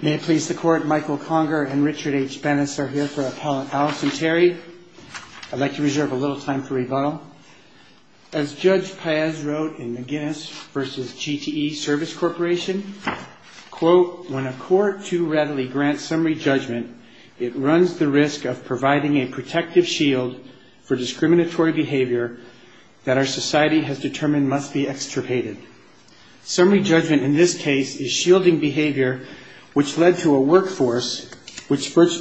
May it please the Court, Michael Conger and Richard H. Bennis are here for Appellate Allison Terry. I'd like to reserve a little time for rebuttal. As Judge Paez wrote in the Guinness v. GTE Service Corporation, quote, when a court too readily grants summary judgment, it runs the risk of providing a protective shield for discriminatory behavior that our society has determined must be extirpated. Summary judgment in this case is shielding behavior which led to a workforce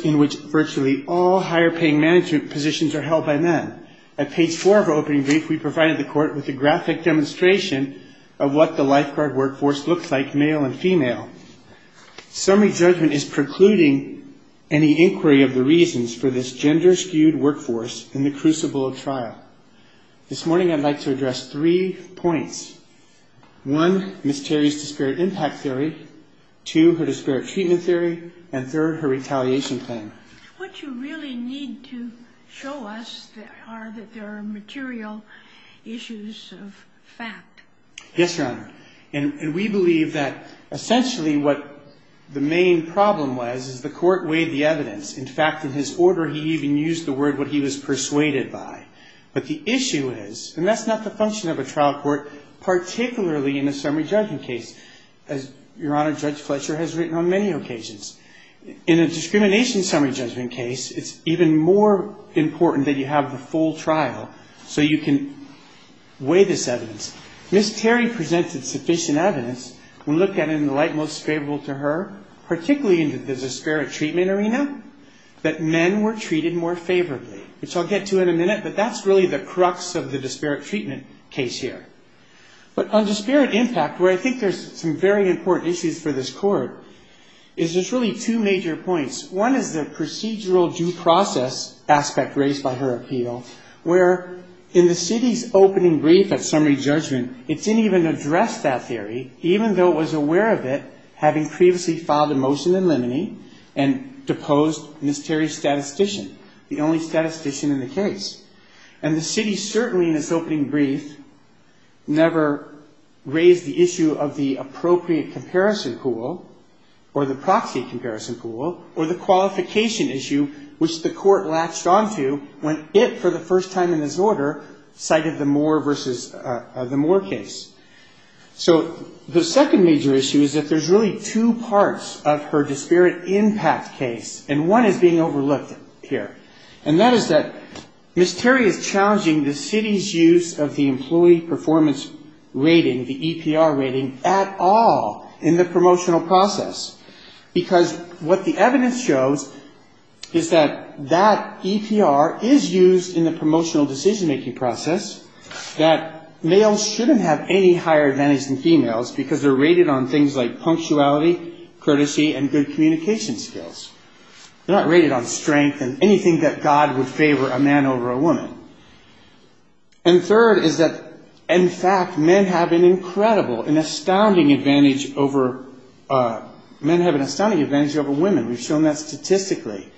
in which virtually all higher paying management positions are held by men. At page four of our opening brief, we provided the Court with a graphic demonstration of what the lifeguard workforce looks like, male and female. Summary judgment is precluding any inquiry of the reasons for this gender skewed workforce in the crucible of trial. This morning I'd like to address three points. One, Ms. Terry's disparate impact theory. Two, her disparate treatment theory. And third, her retaliation claim. What you really need to show us are that there are material issues of fact. Yes, Your Honor. And we believe that essentially what the main problem was is the Court weighed the evidence. In fact, in his order he even used the word he was persuaded by. But the issue is, and that's not the function of a trial court, particularly in a summary judgment case, as Your Honor, Judge Fletcher has written on many occasions. In a discrimination summary judgment case, it's even more important that you have the full trial so you can weigh this evidence. Ms. Terry presented sufficient evidence. We looked at it in the light most favorable to her, particularly in the disparate treatment arena, that men were treated more favorably, which I'll get to in a minute. But that's really the crux of the disparate treatment case here. But on disparate impact, where I think there's some very important issues for this Court, is there's really two major points. One is the procedural due process aspect raised by her appeal, where in the city's opening brief at summary judgment, it didn't even address that theory, even though it was aware of it, having previously filed a motion in limine and deposed Ms. Terry's statistician, the only statistician in the case. And the city certainly in its opening brief never raised the issue of the appropriate comparison pool or the proxy comparison pool or the qualification issue, which the Court latched on to when it, for the first time in its order, cited the Moore versus the Moore case. So the second major issue is that there's really two parts of her disparate impact case, and one is being overlooked here. And that is that Ms. Terry is challenging the city's use of the employee performance rating, the used in the promotional decision-making process, that males shouldn't have any higher advantage than females because they're rated on things like punctuality, courtesy, and good communication skills. They're not rated on strength and anything that God would favor a man over a woman. And third is that, in fact, men have an incredible, an astounding advantage over women. We've shown that statistically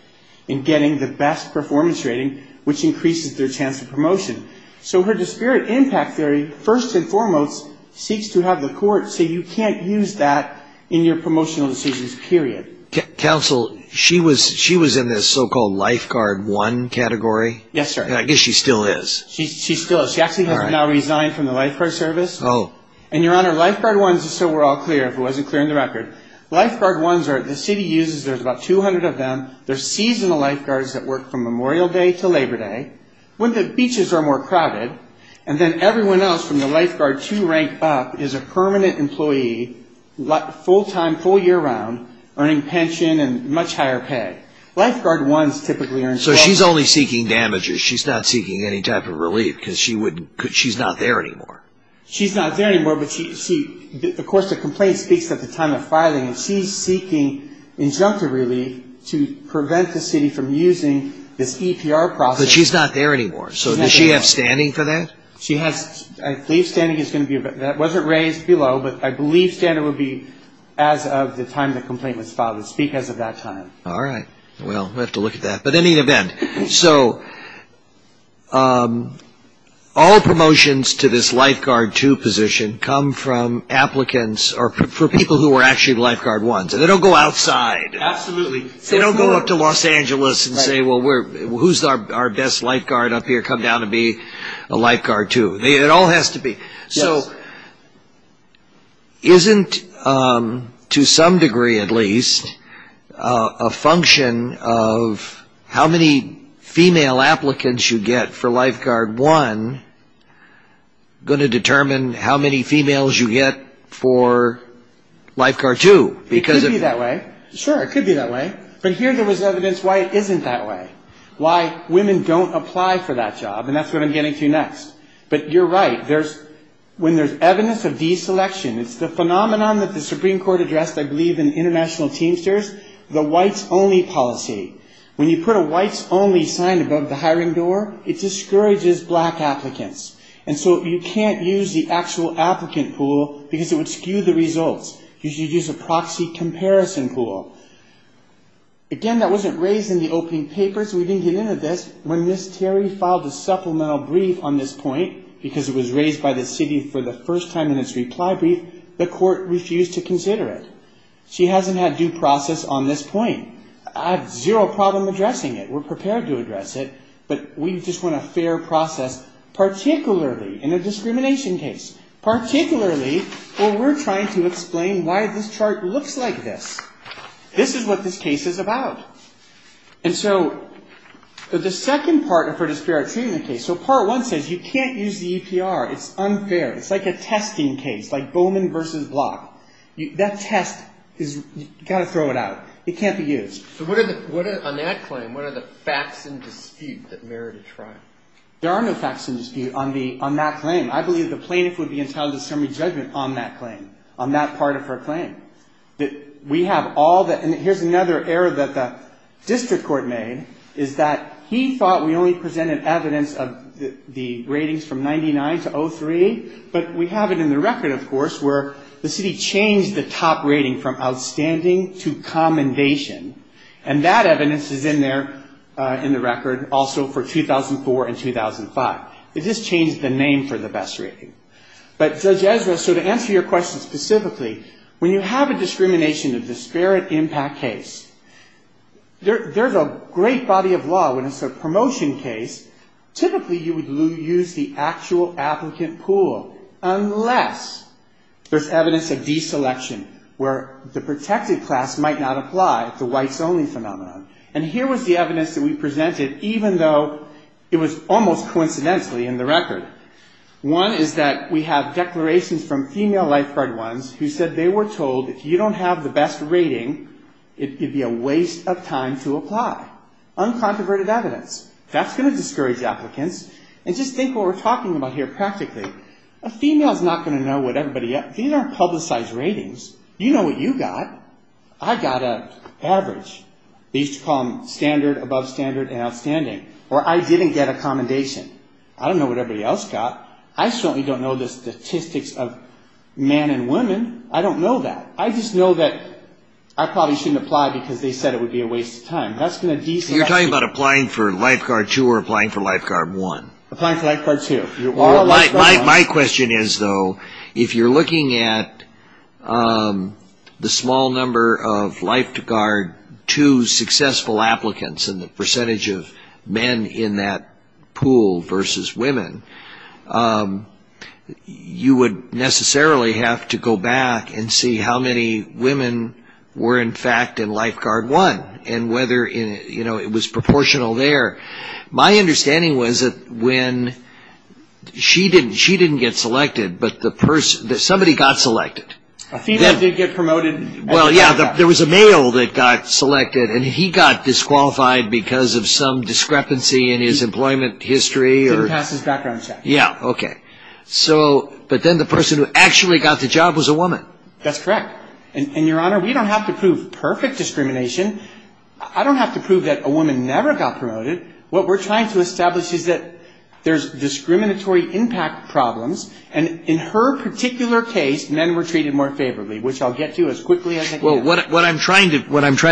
in getting the best performance rating, which increases their chance of promotion. So her disparate impact theory, first and foremost, seeks to have the Court say you can't use that in your promotional decisions, period. Counsel, she was in this so-called lifeguard one category? Yes, sir. I guess she still is. She still is. She actually has now resigned from the lifeguard service. Oh. And, Your Honor, lifeguard ones, just so we're all clear, if it wasn't clear in the record, lifeguard ones are the city uses, there's about 200 of them, there's seasonal lifeguards that work from Memorial Day to Labor Day, when the beaches are more crowded, and then everyone else from the lifeguard two rank up is a permanent employee, full-time, full year-round, earning pension and much higher pay. Lifeguard ones typically earn... So she's only seeking damages. She's not seeking any type of relief because she's not there anymore. She's not there anymore, but she, of course, the complaint speaks at the time of filing, and she's seeking injunctive relief to prevent the city from using this EPR process. But she's not there anymore, so does she have standing for that? She has, I believe standing is going to be, that wasn't raised below, but I believe standing would be as of the time the complaint was filed. It's because of that time. All right. Well, we'll have to look at that. But in any event, so all promotions to this lifeguard two position come from applicants or from people who are actually lifeguard ones, and they don't go outside. Absolutely. They don't go up to Los Angeles and say, well, who's our best lifeguard up here? Come down and be a lifeguard two. It all has to be. So isn't, to some degree at least, a function of how many female applicants you get for lifeguard one going to determine how many females you get for lifeguard two? It could be that way. Sure, it could be that way. But here there was evidence why it isn't that way, why women don't apply for that job, and that's what I'm getting to next. But you're right. When there's evidence of deselection, it's the phenomenon that the Supreme Court addressed, I believe, in international teamsters, the whites only policy. When you put a whites only sign above the hiring door, it discourages black applicants. And so you can't use the actual applicant pool because it would skew the results. You should use a proxy comparison pool. Again, that wasn't raised in the opening papers. We didn't get into this. When Ms. Terry filed a supplemental brief on this point, because it was raised by the city for the first time in its reply brief, the court refused to consider it. She hasn't had due process on this point. I have zero problem addressing it. We're prepared to address it, but we just want a fair process, particularly in a discrimination case, particularly where we're trying to explain why this chart looks like this. This is what this case is about. And so the second part of her disparate treatment case, so part one says you can't use the EPR. It's unfair. It's like a testing case, like Bowman versus Block. That test, you've got to throw it out. It can't be used. So on that claim, what are the facts in dispute that merit a trial? There are no facts in dispute on that claim. I believe the plaintiff would be entitled to summary judgment on that claim, on that part of her claim. We have all the, and here's another error that the district court made, is that he thought we only presented evidence of the ratings from 99 to 03, but we have it in the record, of course, where the city changed the top rating from outstanding to commendation. And that evidence is in there in the record also for 2004 and 2005. They just changed the name for the best rating. But Judge Ezra, so to answer your question specifically, when you have a discrimination of disparate impact case, there's a great body of law when it's a promotion case, typically you would use the actual applicant pool, unless there's evidence of deselection, where the protected class might not apply to whites-only phenomenon. And here was the evidence that we presented, even though it was almost coincidentally in the record. One is that we have declarations from female lifeguard ones who said they were told if you don't have the best rating, it would be a waste of time to apply. Uncontroverted evidence. That's going to discourage applicants. And just think what we're talking about here practically. A female's not going to know what everybody, these aren't publicized ratings. You know what you got. I got an average. We used to call them standard, above standard, and outstanding. Or I didn't get a commendation. I don't know what everybody else got. I certainly don't know the statistics of men and women. I don't know that. I just know that I probably shouldn't apply because they said it would be a waste of time. You're talking about applying for lifeguard two or applying for lifeguard one? Applying for lifeguard two. My question is, though, if you're looking at the small number of lifeguard two successful applicants and the percentage of men in that pool versus women, you would necessarily have to go back and see how many women were in fact in lifeguard one and whether it was proportional there. My question is, if you're going to apply for lifeguard two, you would need to see how many women's lives got saved in lifeguard two. My question is, if you're going to apply for lifeguard two, you would need to see how many women's lives got saved in lifeguard two. She didn't get selected, but somebody got selected. A female did get promoted. Well, yeah, there was a male that got selected. And he got disqualified because of some discrepancy in his employment history or Didn't pass his background check. Yeah, okay. But then the person who actually got the job was a woman. That's correct. And, Your Honor, we don't have to prove perfect discrimination. I don't have to prove that a woman never got promoted. What we're trying to establish is that there's discriminatory impact problems. And in her particular case, men were treated more favorably, which I'll get to as quickly as I can. Well, what I'm trying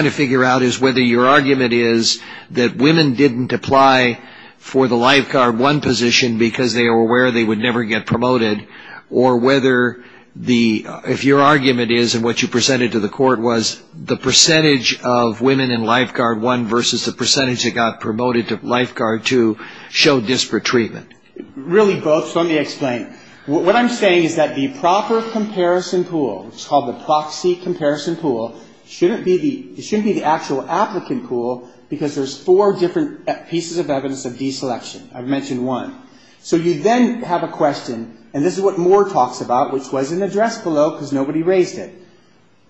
to figure out is whether your argument is that women didn't apply for the lifeguard one position because they were aware they would never get promoted, or whether the, if your argument is, and what you presented to the court was, the percentage of women in lifeguard one versus the percentage that got promoted to lifeguard two showed disparate treatment. Really both. So let me explain. What I'm saying is that the proper comparison pool, which is called the proxy comparison pool, shouldn't be the actual applicant pool because there's four different pieces of evidence of deselection. I've mentioned one. So you then have a question, and this is what Moore talks about, which was in the address below because nobody raised it.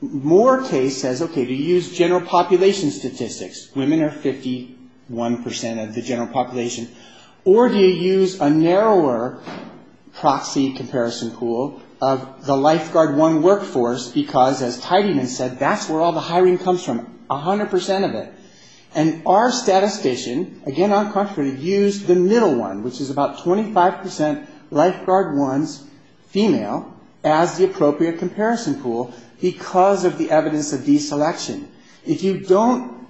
Moore case says, okay, do you use general population statistics? Women are 51% of the general population. Or do you use a narrower proxy comparison pool of the lifeguard one workforce because, as Tidyman said, that's where all the hiring comes from, 100% of it. And our statistician, again, on contrary, used the middle one, which is about 25% lifeguard ones, female, as the appropriate comparison pool because of the evidence of deselection. If you don't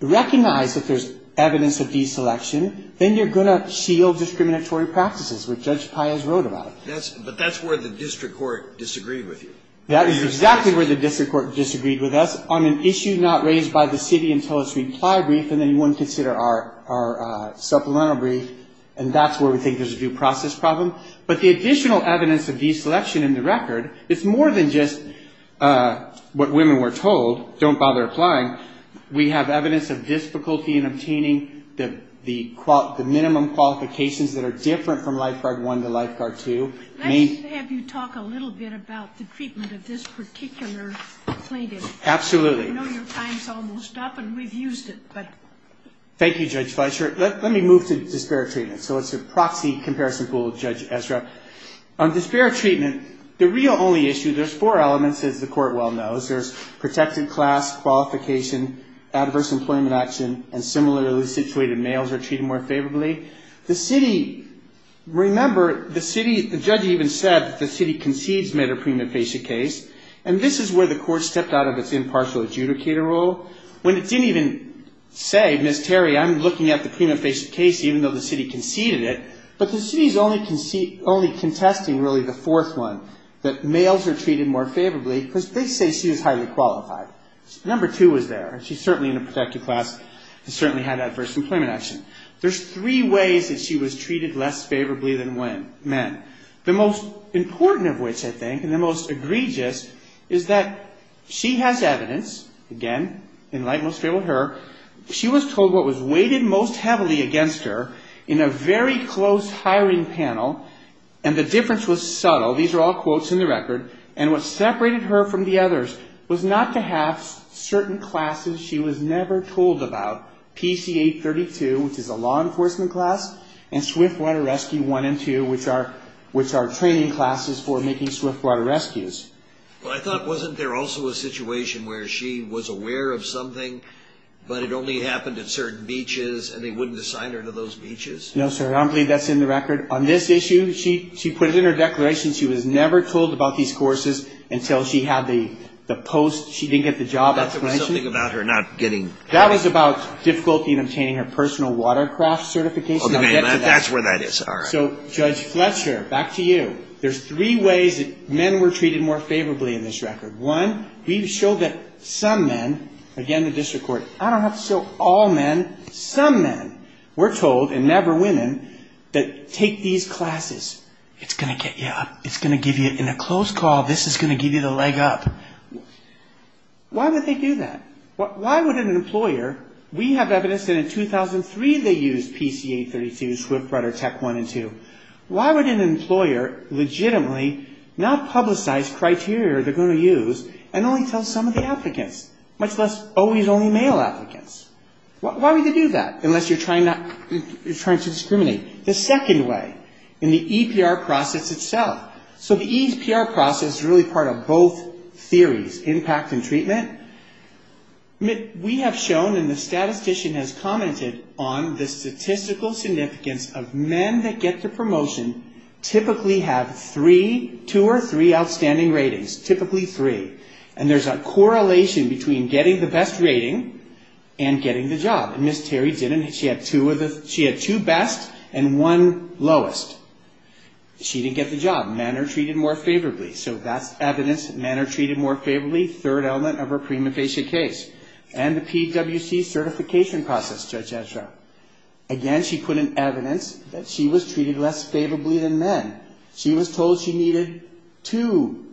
recognize that there's evidence of deselection, then you're going to shield discriminatory practices, which Judge Pius wrote about it. But that's where the district court disagreed with you. That is exactly where the district court disagreed with us on an issue not raised by the city until its reply brief, and then you wouldn't consider our supplemental brief, and that's where we think there's a due process problem. But the additional evidence of deselection in the record is more than just what women were told, don't bother applying. We have evidence of difficulty in obtaining the minimum qualifications that are different from lifeguard one to lifeguard two. Let me have you talk a little bit about the treatment of this particular plaintiff. Absolutely. I know your time's almost up, and we've used it, but... Thank you, Judge Fleisher. Let me move to disparate treatment. So it's a proxy comparison pool, Judge Ezra. On disparate treatment, the real only issue, there's four elements, as the court well knows. There's protected class, qualification, adverse employment action, and similarly situated males are treated more favorably. The city, remember, the city, the judge even said that the city concedes made a prima facie case, and this is where the court stepped out of its impartial adjudicator role. When it didn't even say, Ms. Terry, I'm looking at the prima facie case even though the city conceded it, but the city's only contesting really the fourth one, that males are treated more favorably, because they say she was highly qualified. Number two was there, and she's certainly in a protected class, and certainly had adverse employment action. There's three ways that she was treated less favorably than men. The most important of which, I think, and the most egregious, is that she has evidence, again, in light most favorable to her, she was told what was weighted most heavily against her in a very close hiring panel, and the difference was subtle. These are all quotes in the record, and what separated her from the others was not to have certain classes she was never told about, PCA 32, which is a law enforcement class, and Swift Water Rescue 1 and 2, which are training classes for making Swift Water Rescues. Well, I thought, wasn't there also a situation where she was aware of something, but it only happened at certain beaches, and they wouldn't assign her to those beaches? No, sir, I don't believe that's in the record. On this issue, she put it in her declaration, she was never told about these courses until she had the post, she didn't get the job explanation. I thought there was something about her not getting... That was about difficulty in obtaining her personal watercraft certification. Okay, that's where that is, all right. So, Judge Fletcher, back to you. There's three ways that men were treated more favorably in this record. One, we've showed that some men, again, the women, were told, and never women, that take these classes, it's going to get you up, it's going to give you, in a close call, this is going to give you the leg up. Why would they do that? Why would an employer, we have evidence that in 2003 they used PCA 32, Swift Water Tech 1 and 2. Why would an employer legitimately not publicize criteria they're going to use and only tell some of the applicants, much less always only male applicants? Why would they do that, unless you're trying to discriminate? The second way, in the EPR process itself. So the EPR process is really part of both theories, impact and treatment. We have shown and the statistician has commented on the statistical significance of men that get the promotion typically have two or three outstanding ratings, typically three. And there's a correlation between getting the best rating and getting the job. And Ms. Terry didn't. She had two best and one lowest. She didn't get the job. Men are treated more favorably. So that's evidence that men are treated more favorably, third element of her prima facie case. And the PWC certification process, Judge Fletcher. Again, she put in evidence that she was treated less favorably than men. She was told she needed two,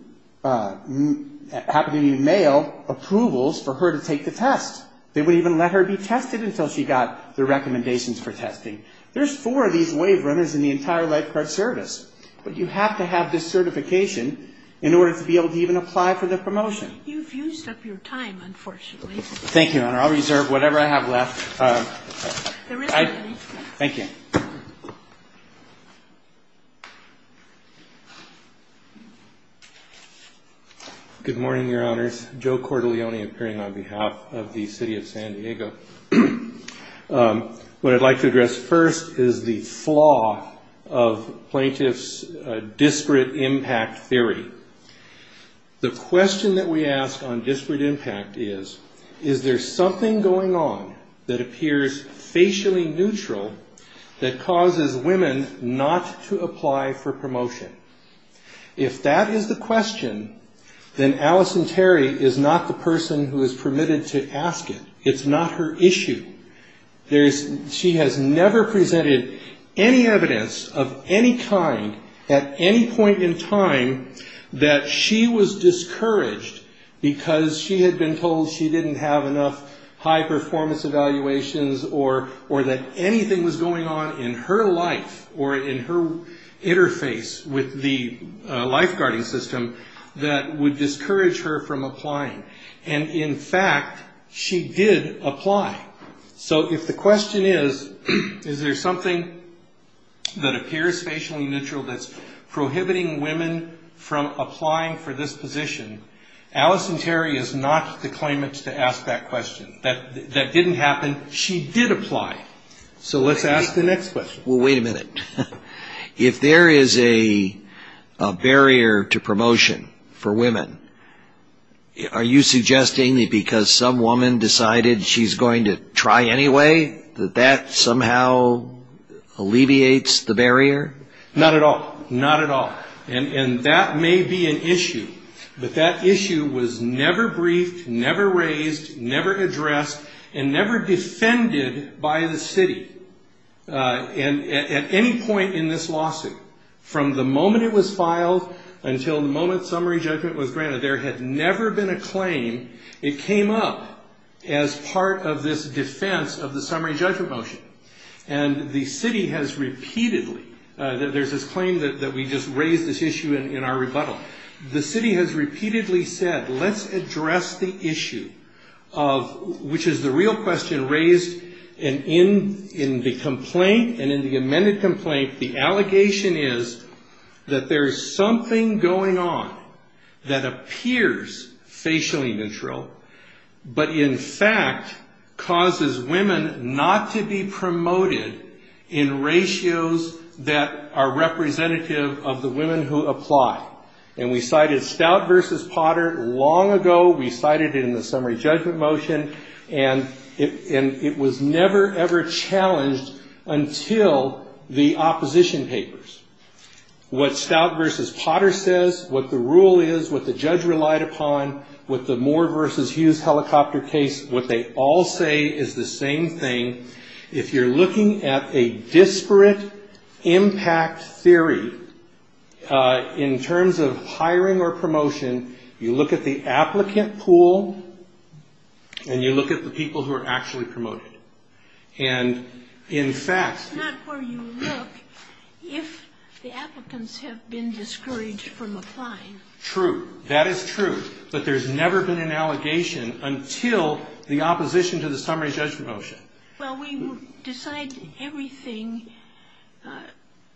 happened to be male, approvals for her to take the test. They wouldn't even let her be tested until she got the recommendations for testing. There's four of these waive runners in the entire life card service. But you have to have this certification in order to be able to even apply for the promotion. You've used up your time, unfortunately. Thank you, Your Honor. I'll reserve whatever I have left. There is money. Thank you. Good morning, Your Honors. Joe Cordelioni appearing on behalf of the City of San Diego. What I'd like to address first is the flaw of plaintiffs' disparate impact theory. The question that we ask on disparate impact is, is there something going on that appears facially neutral that causes women not to apply for promotion? If that is the question, then Alice and Terry is not the person who is permitted to ask it. It's not her issue. She has never presented any evidence of any kind at any point in time that she was discouraged because she had been told she didn't have enough high-performance evaluations or that anything was going on in her life or in her interface with the lifeguarding system that would discourage her from applying. So if the question is, is there something that appears facially neutral that's prohibiting women from applying for this position, Alice and Terry is not the claimant to ask that question. That didn't happen. She did apply. So let's ask the next question. Wait a minute. If there is a barrier to promotion for women, are you suggesting that because some woman decided she's going to try anyway, that that somehow alleviates the barrier? Not at all. Not at all. And that may be an issue, but that issue was never briefed, never raised, never addressed, and never defended by the city at any point in this lawsuit. From the moment it was filed until the moment summary judgment was granted, there had never been a claim. It came up as part of this defense of the summary judgment motion. And the city has repeatedly, there's this claim that we just raised this issue in our rebuttal. The city has repeatedly said, let's address the issue of, which is the real question raised in the complaint and in the amended complaint, the allegation is that there's something going on that appears facially neutral, but in fact causes women not to be promoted in ratios that are representative of the women who apply. And we cited Stout v. Potter long ago. We cited it in the summary judgment motion, and it was never ever challenged until the opposition papers. What Stout v. Potter says, what the rule is, what the judge relied upon, what the Moore v. Hughes helicopter case, what they all say is the same thing. If you're looking at a disparate impact theory in terms of hiring or promotion, you look at the applicant pool, and you look at the people who are actually promoted. And in fact... Not where you look if the applicants have been discouraged from applying. True, that is true, but there's never been an allegation until the opposition to the summary judgment motion. Well, we decide everything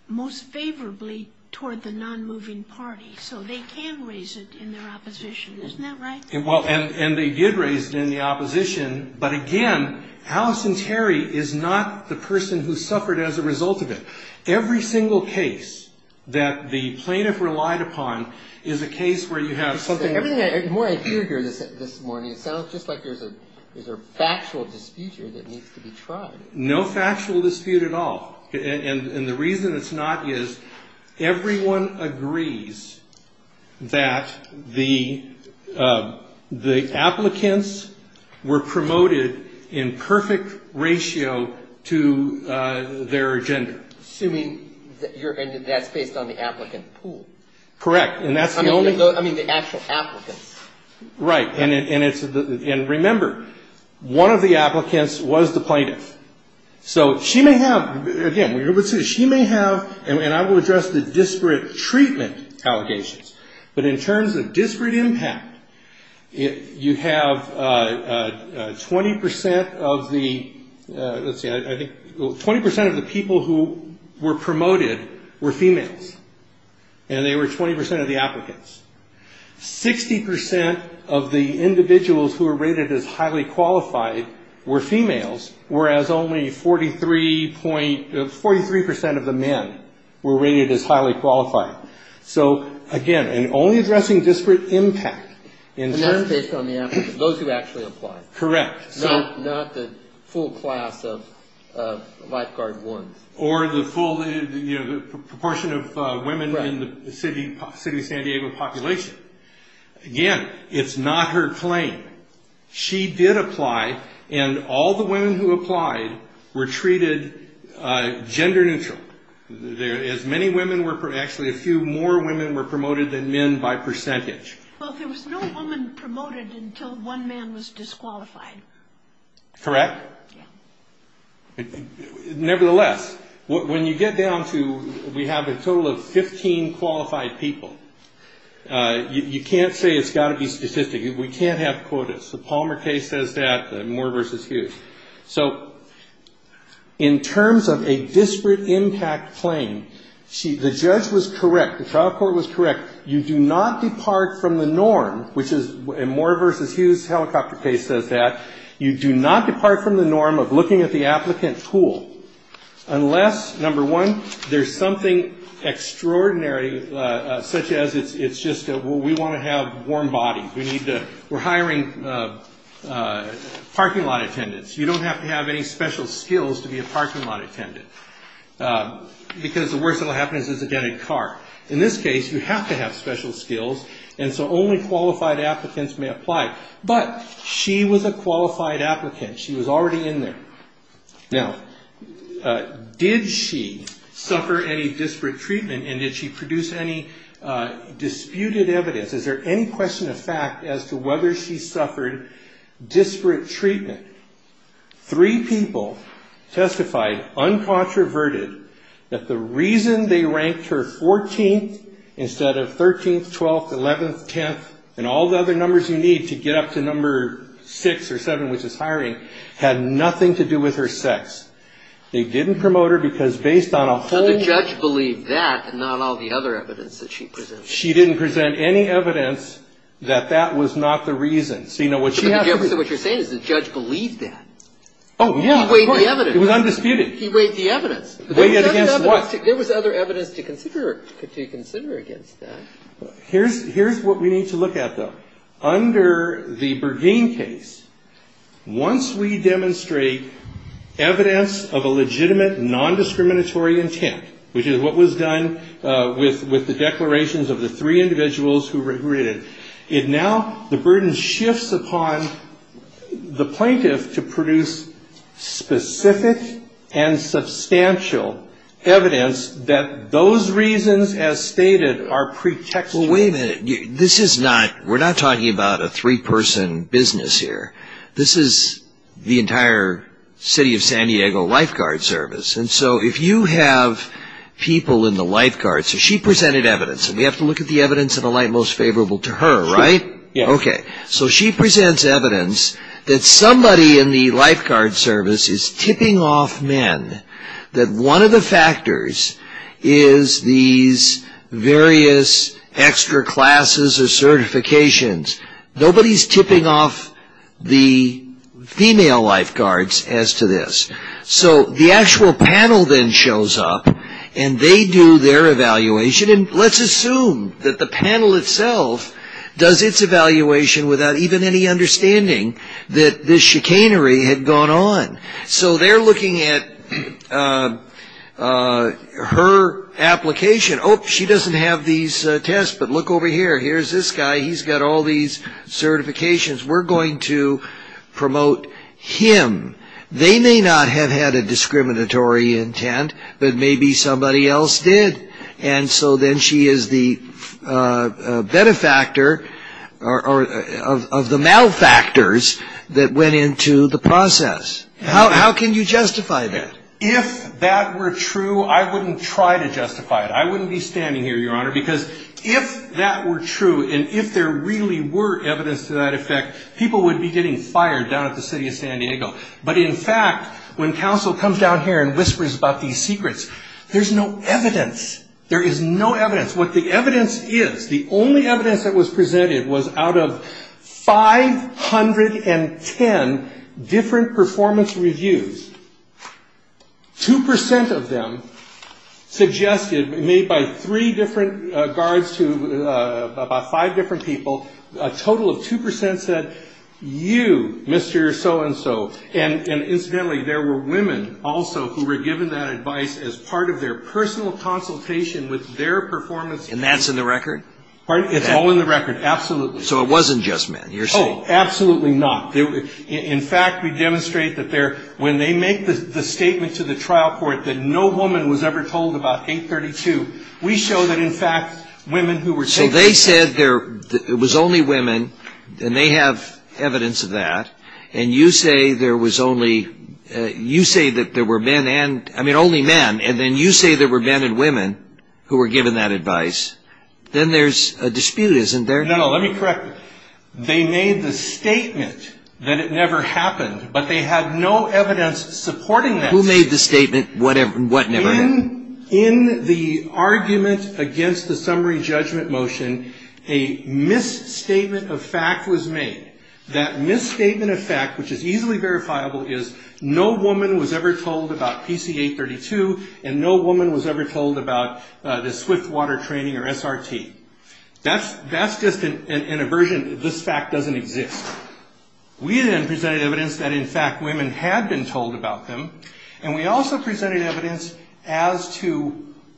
most favorably toward the non-moving party, so they can raise it in their opposition, isn't that right? And they did raise it in the opposition, but again, Allison Terry is not the person who suffered as a result of it. Every single case that the plaintiff relied upon is a case where you have something... The more I hear you this morning, it sounds just like there's a factual dispute here that needs to be tried. No factual dispute at all. And the reason it's not is everyone agrees that the applicants were promoted in perfect ratio to their gender. Assuming that's based on the applicant pool. Correct, and that's the only... I mean, the actual applicants. Right, and remember, one of the applicants was the plaintiff. So she may have... Again, she may have, and I will address the disparate treatment allegations, but in terms of disparate impact, you have 20% of the people who were promoted. were females, and they were 20% of the applicants. 60% of the individuals who were rated as highly qualified were females, whereas only 43% of the men were rated as highly qualified. So again, and only addressing disparate impact... the proportion of women in the city of San Diego population. Again, it's not her claim. She did apply, and all the women who applied were treated gender neutral. As many women were... Actually, a few more women were promoted than men by percentage. Well, there was no woman promoted until one man was disqualified. Correct. Nevertheless, when you get down to... We have a total of 15 qualified people. You can't say it's got to be statistic. We can't have quotas. The Palmer case says that, the Moore versus Hughes. So in terms of a disparate impact claim, the judge was correct. The trial court was correct. You do not depart from the norm, which is... In Moore versus Hughes helicopter case says that. You do not depart from the norm of looking at the applicant's pool unless, number one, there's something extraordinary, such as it's just, well, we want to have warm bodies. We're hiring parking lot attendants. You don't have to have any special skills to be a parking lot attendant, because the worst that will happen is it's a dented car. In this case, you have to have special skills, and so only qualified applicants may apply. But she was a qualified applicant. She was already in there. Now, did she suffer any disparate treatment, and did she produce any disputed evidence? Is there any question of fact as to whether she suffered disparate treatment? Three people testified, uncontroverted, that the reason they ranked her 14th instead of 13th, 12th, 11th, 10th, and all the other numbers you need to get up to number 6 or 7, which is hiring, had nothing to do with her sex. They didn't promote her because based on a whole... Oh, yeah, of course. It was undisputed. He weighed the evidence. Weighed it against what? There was other evidence to consider against that. Here's what we need to look at, though. Under the Bergeen case, once we demonstrate evidence of a legitimate, nondiscriminatory intent, which is what was done with the declarations of the three individuals who were in it, now the burden shifts upon the plaintiff to produce specific and substantial evidence that those reasons, as stated, are pretextual. Well, wait a minute. We're not talking about a three-person business here. This is the entire City of San Diego Lifeguard Service. If you have people in the lifeguards... She presented evidence. We have to look at the evidence in a light most favorable to her, right? Yeah. Okay. She presents evidence that somebody in the lifeguard service is tipping off men, that one of the factors is these various extra classes or certifications. Nobody's tipping off the female lifeguards as to this. So the actual panel then shows up, and they do their evaluation. And let's assume that the panel itself does its evaluation without even any understanding that this chicanery had gone on. So they're looking at her application. Oh, she doesn't have these tests, but look over here. Here's this guy. He's got all these certifications. We're going to promote him. They may not have had a discriminatory intent, but maybe somebody else did. And so then she is the benefactor of the malfactors that went into the process. How can you justify that? If that were true, I wouldn't try to justify it. I wouldn't be standing here, Your Honor, because if that were true and if there really were evidence to that effect, people would be getting fired down at the City of San Diego. But in fact, when counsel comes down here and whispers about these secrets, there's no evidence. There is no evidence. What the evidence is, the only evidence that was presented was out of 510 different performance reviews. 2% of them suggested, made by three different guards to about five different people, a total of 2% said, you, Mr. So-and-so. And incidentally, there were women also who were given that advice as part of their personal consultation with their performance review. And that's in the record? It's all in the record, absolutely. So it wasn't just men, you're saying? No, absolutely not. In fact, we demonstrate that when they make the statement to the trial court that no woman was ever told about 832, we show that, in fact, women who were taking that advice... So they said there was only women, and they have evidence of that, and you say that there were men and women who were given that advice. Then there's a dispute, isn't there? No, no, let me correct you. They made the statement that it never happened, but they had no evidence supporting that. Who made the statement what never happened? In the argument against the summary judgment motion, a misstatement of fact was made. That misstatement of fact, which is easily verifiable, is no woman was ever told about PC 832, and no woman was ever told about the swift water training or SRT. That's just an aversion. This fact doesn't exist. We then presented evidence that, in fact, women had been told about them, and we also presented evidence as to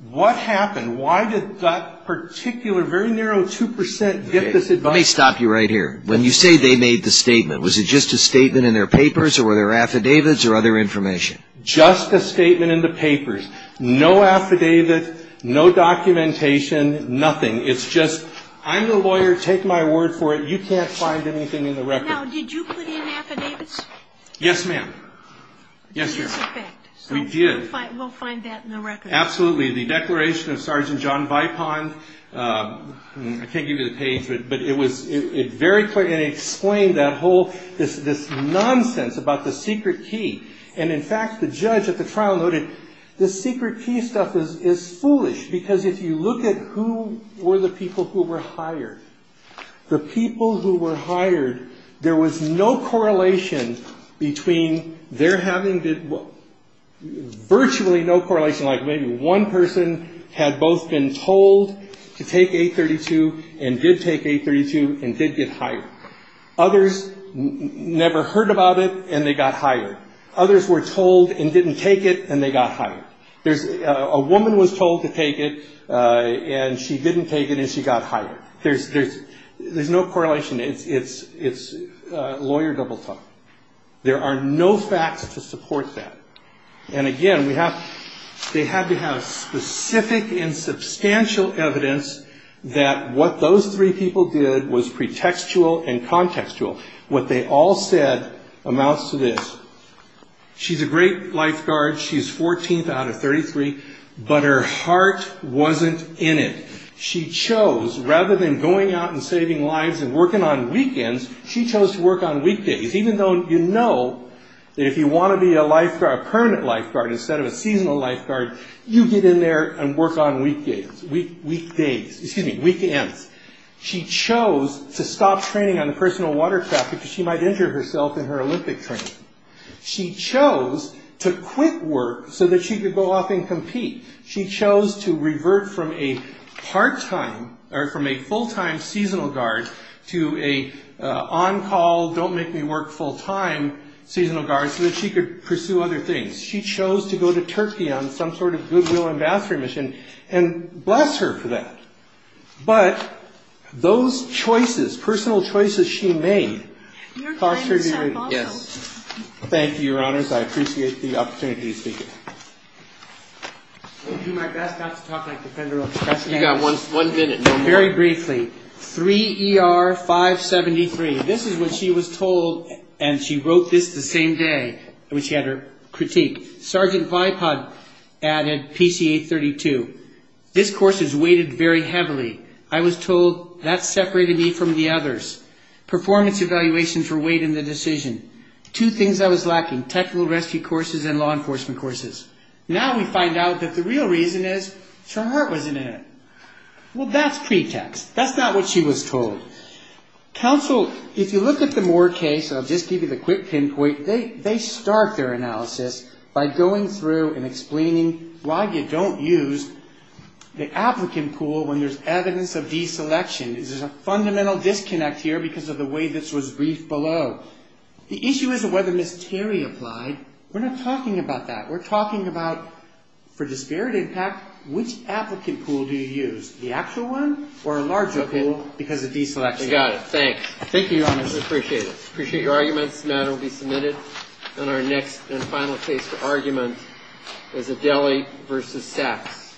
what happened. Why did that particular very narrow 2% get this advice? Let me stop you right here. When you say they made the statement, was it just a statement in their papers, or were there affidavits or other information? Just a statement in the papers. No affidavit, no documentation, nothing. It's just, I'm the lawyer, take my word for it, you can't find anything in the record. Now, did you put in affidavits? Yes, ma'am. Yes, ma'am. Yes, in fact. We did. We'll find that in the record. Absolutely. The declaration of Sergeant John Vipon, I can't give you the page, but it was very clear, and it explained that whole, this nonsense about the secret key. And, in fact, the judge at the trial noted, this secret key stuff is foolish, because if you look at who were the people who were hired, the people who were hired, there was no correlation between their having virtually no correlation, like maybe one person had both been told to take 832 and did take 832 and did get hired. Others never heard about it, and they got hired. Others were told and didn't take it, and they got hired. A woman was told to take it, and she didn't take it, and she got hired. There's no correlation. It's lawyer double talk. There are no facts to support that. And, again, they had to have specific and substantial evidence that what those three people did was pretextual and contextual. What they all said amounts to this. She's a great lifeguard. She's 14th out of 33, but her heart wasn't in it. She chose, rather than going out and saving lives and working on weekends, she chose to work on weekdays, even though you know that if you want to be a lifeguard, a permanent lifeguard instead of a seasonal lifeguard, you get in there and work on weekends. She chose to stop training on the personal watercraft because she might injure herself in her Olympic training. She chose to quit work so that she could go off and compete. She chose to revert from a part-time or from a full-time seasonal guard to an on-call, don't-make-me-work-full-time seasonal guard so that she could pursue other things. She chose to go to Turkey on some sort of goodwill ambassador mission, and bless her for that. But those choices, personal choices she made. Yes. Thank you, Your Honors. I appreciate the opportunity to speak. I'll do my best not to talk like a defender of the press. You've got one minute. Very briefly. 3 ER 573. This is what she was told, and she wrote this the same day when she had her critique. Sergeant Vipod added PCA 32. This course is weighted very heavily. I was told that separated me from the others. Performance evaluation for weight in the decision. Two things I was lacking. Technical rescue courses and law enforcement courses. Now we find out that the real reason is that her heart wasn't in it. Well, that's pretext. That's not what she was told. Counsel, if you look at the Moore case, I'll just give you the quick pinpoint. They start their analysis by going through and explaining why you don't use the applicant pool when there's evidence of deselection. There's a fundamental disconnect here because of the way this was briefed below. The issue is whether Ms. Terry applied. We're not talking about that. We're talking about for disparate impact, which applicant pool do you use, the actual one or a larger pool because of deselection? I got it. Thanks. Thank you, Your Honors. I appreciate it. I appreciate your arguments. The matter will be submitted. And our next and final case for argument is Adelie v. Sachs.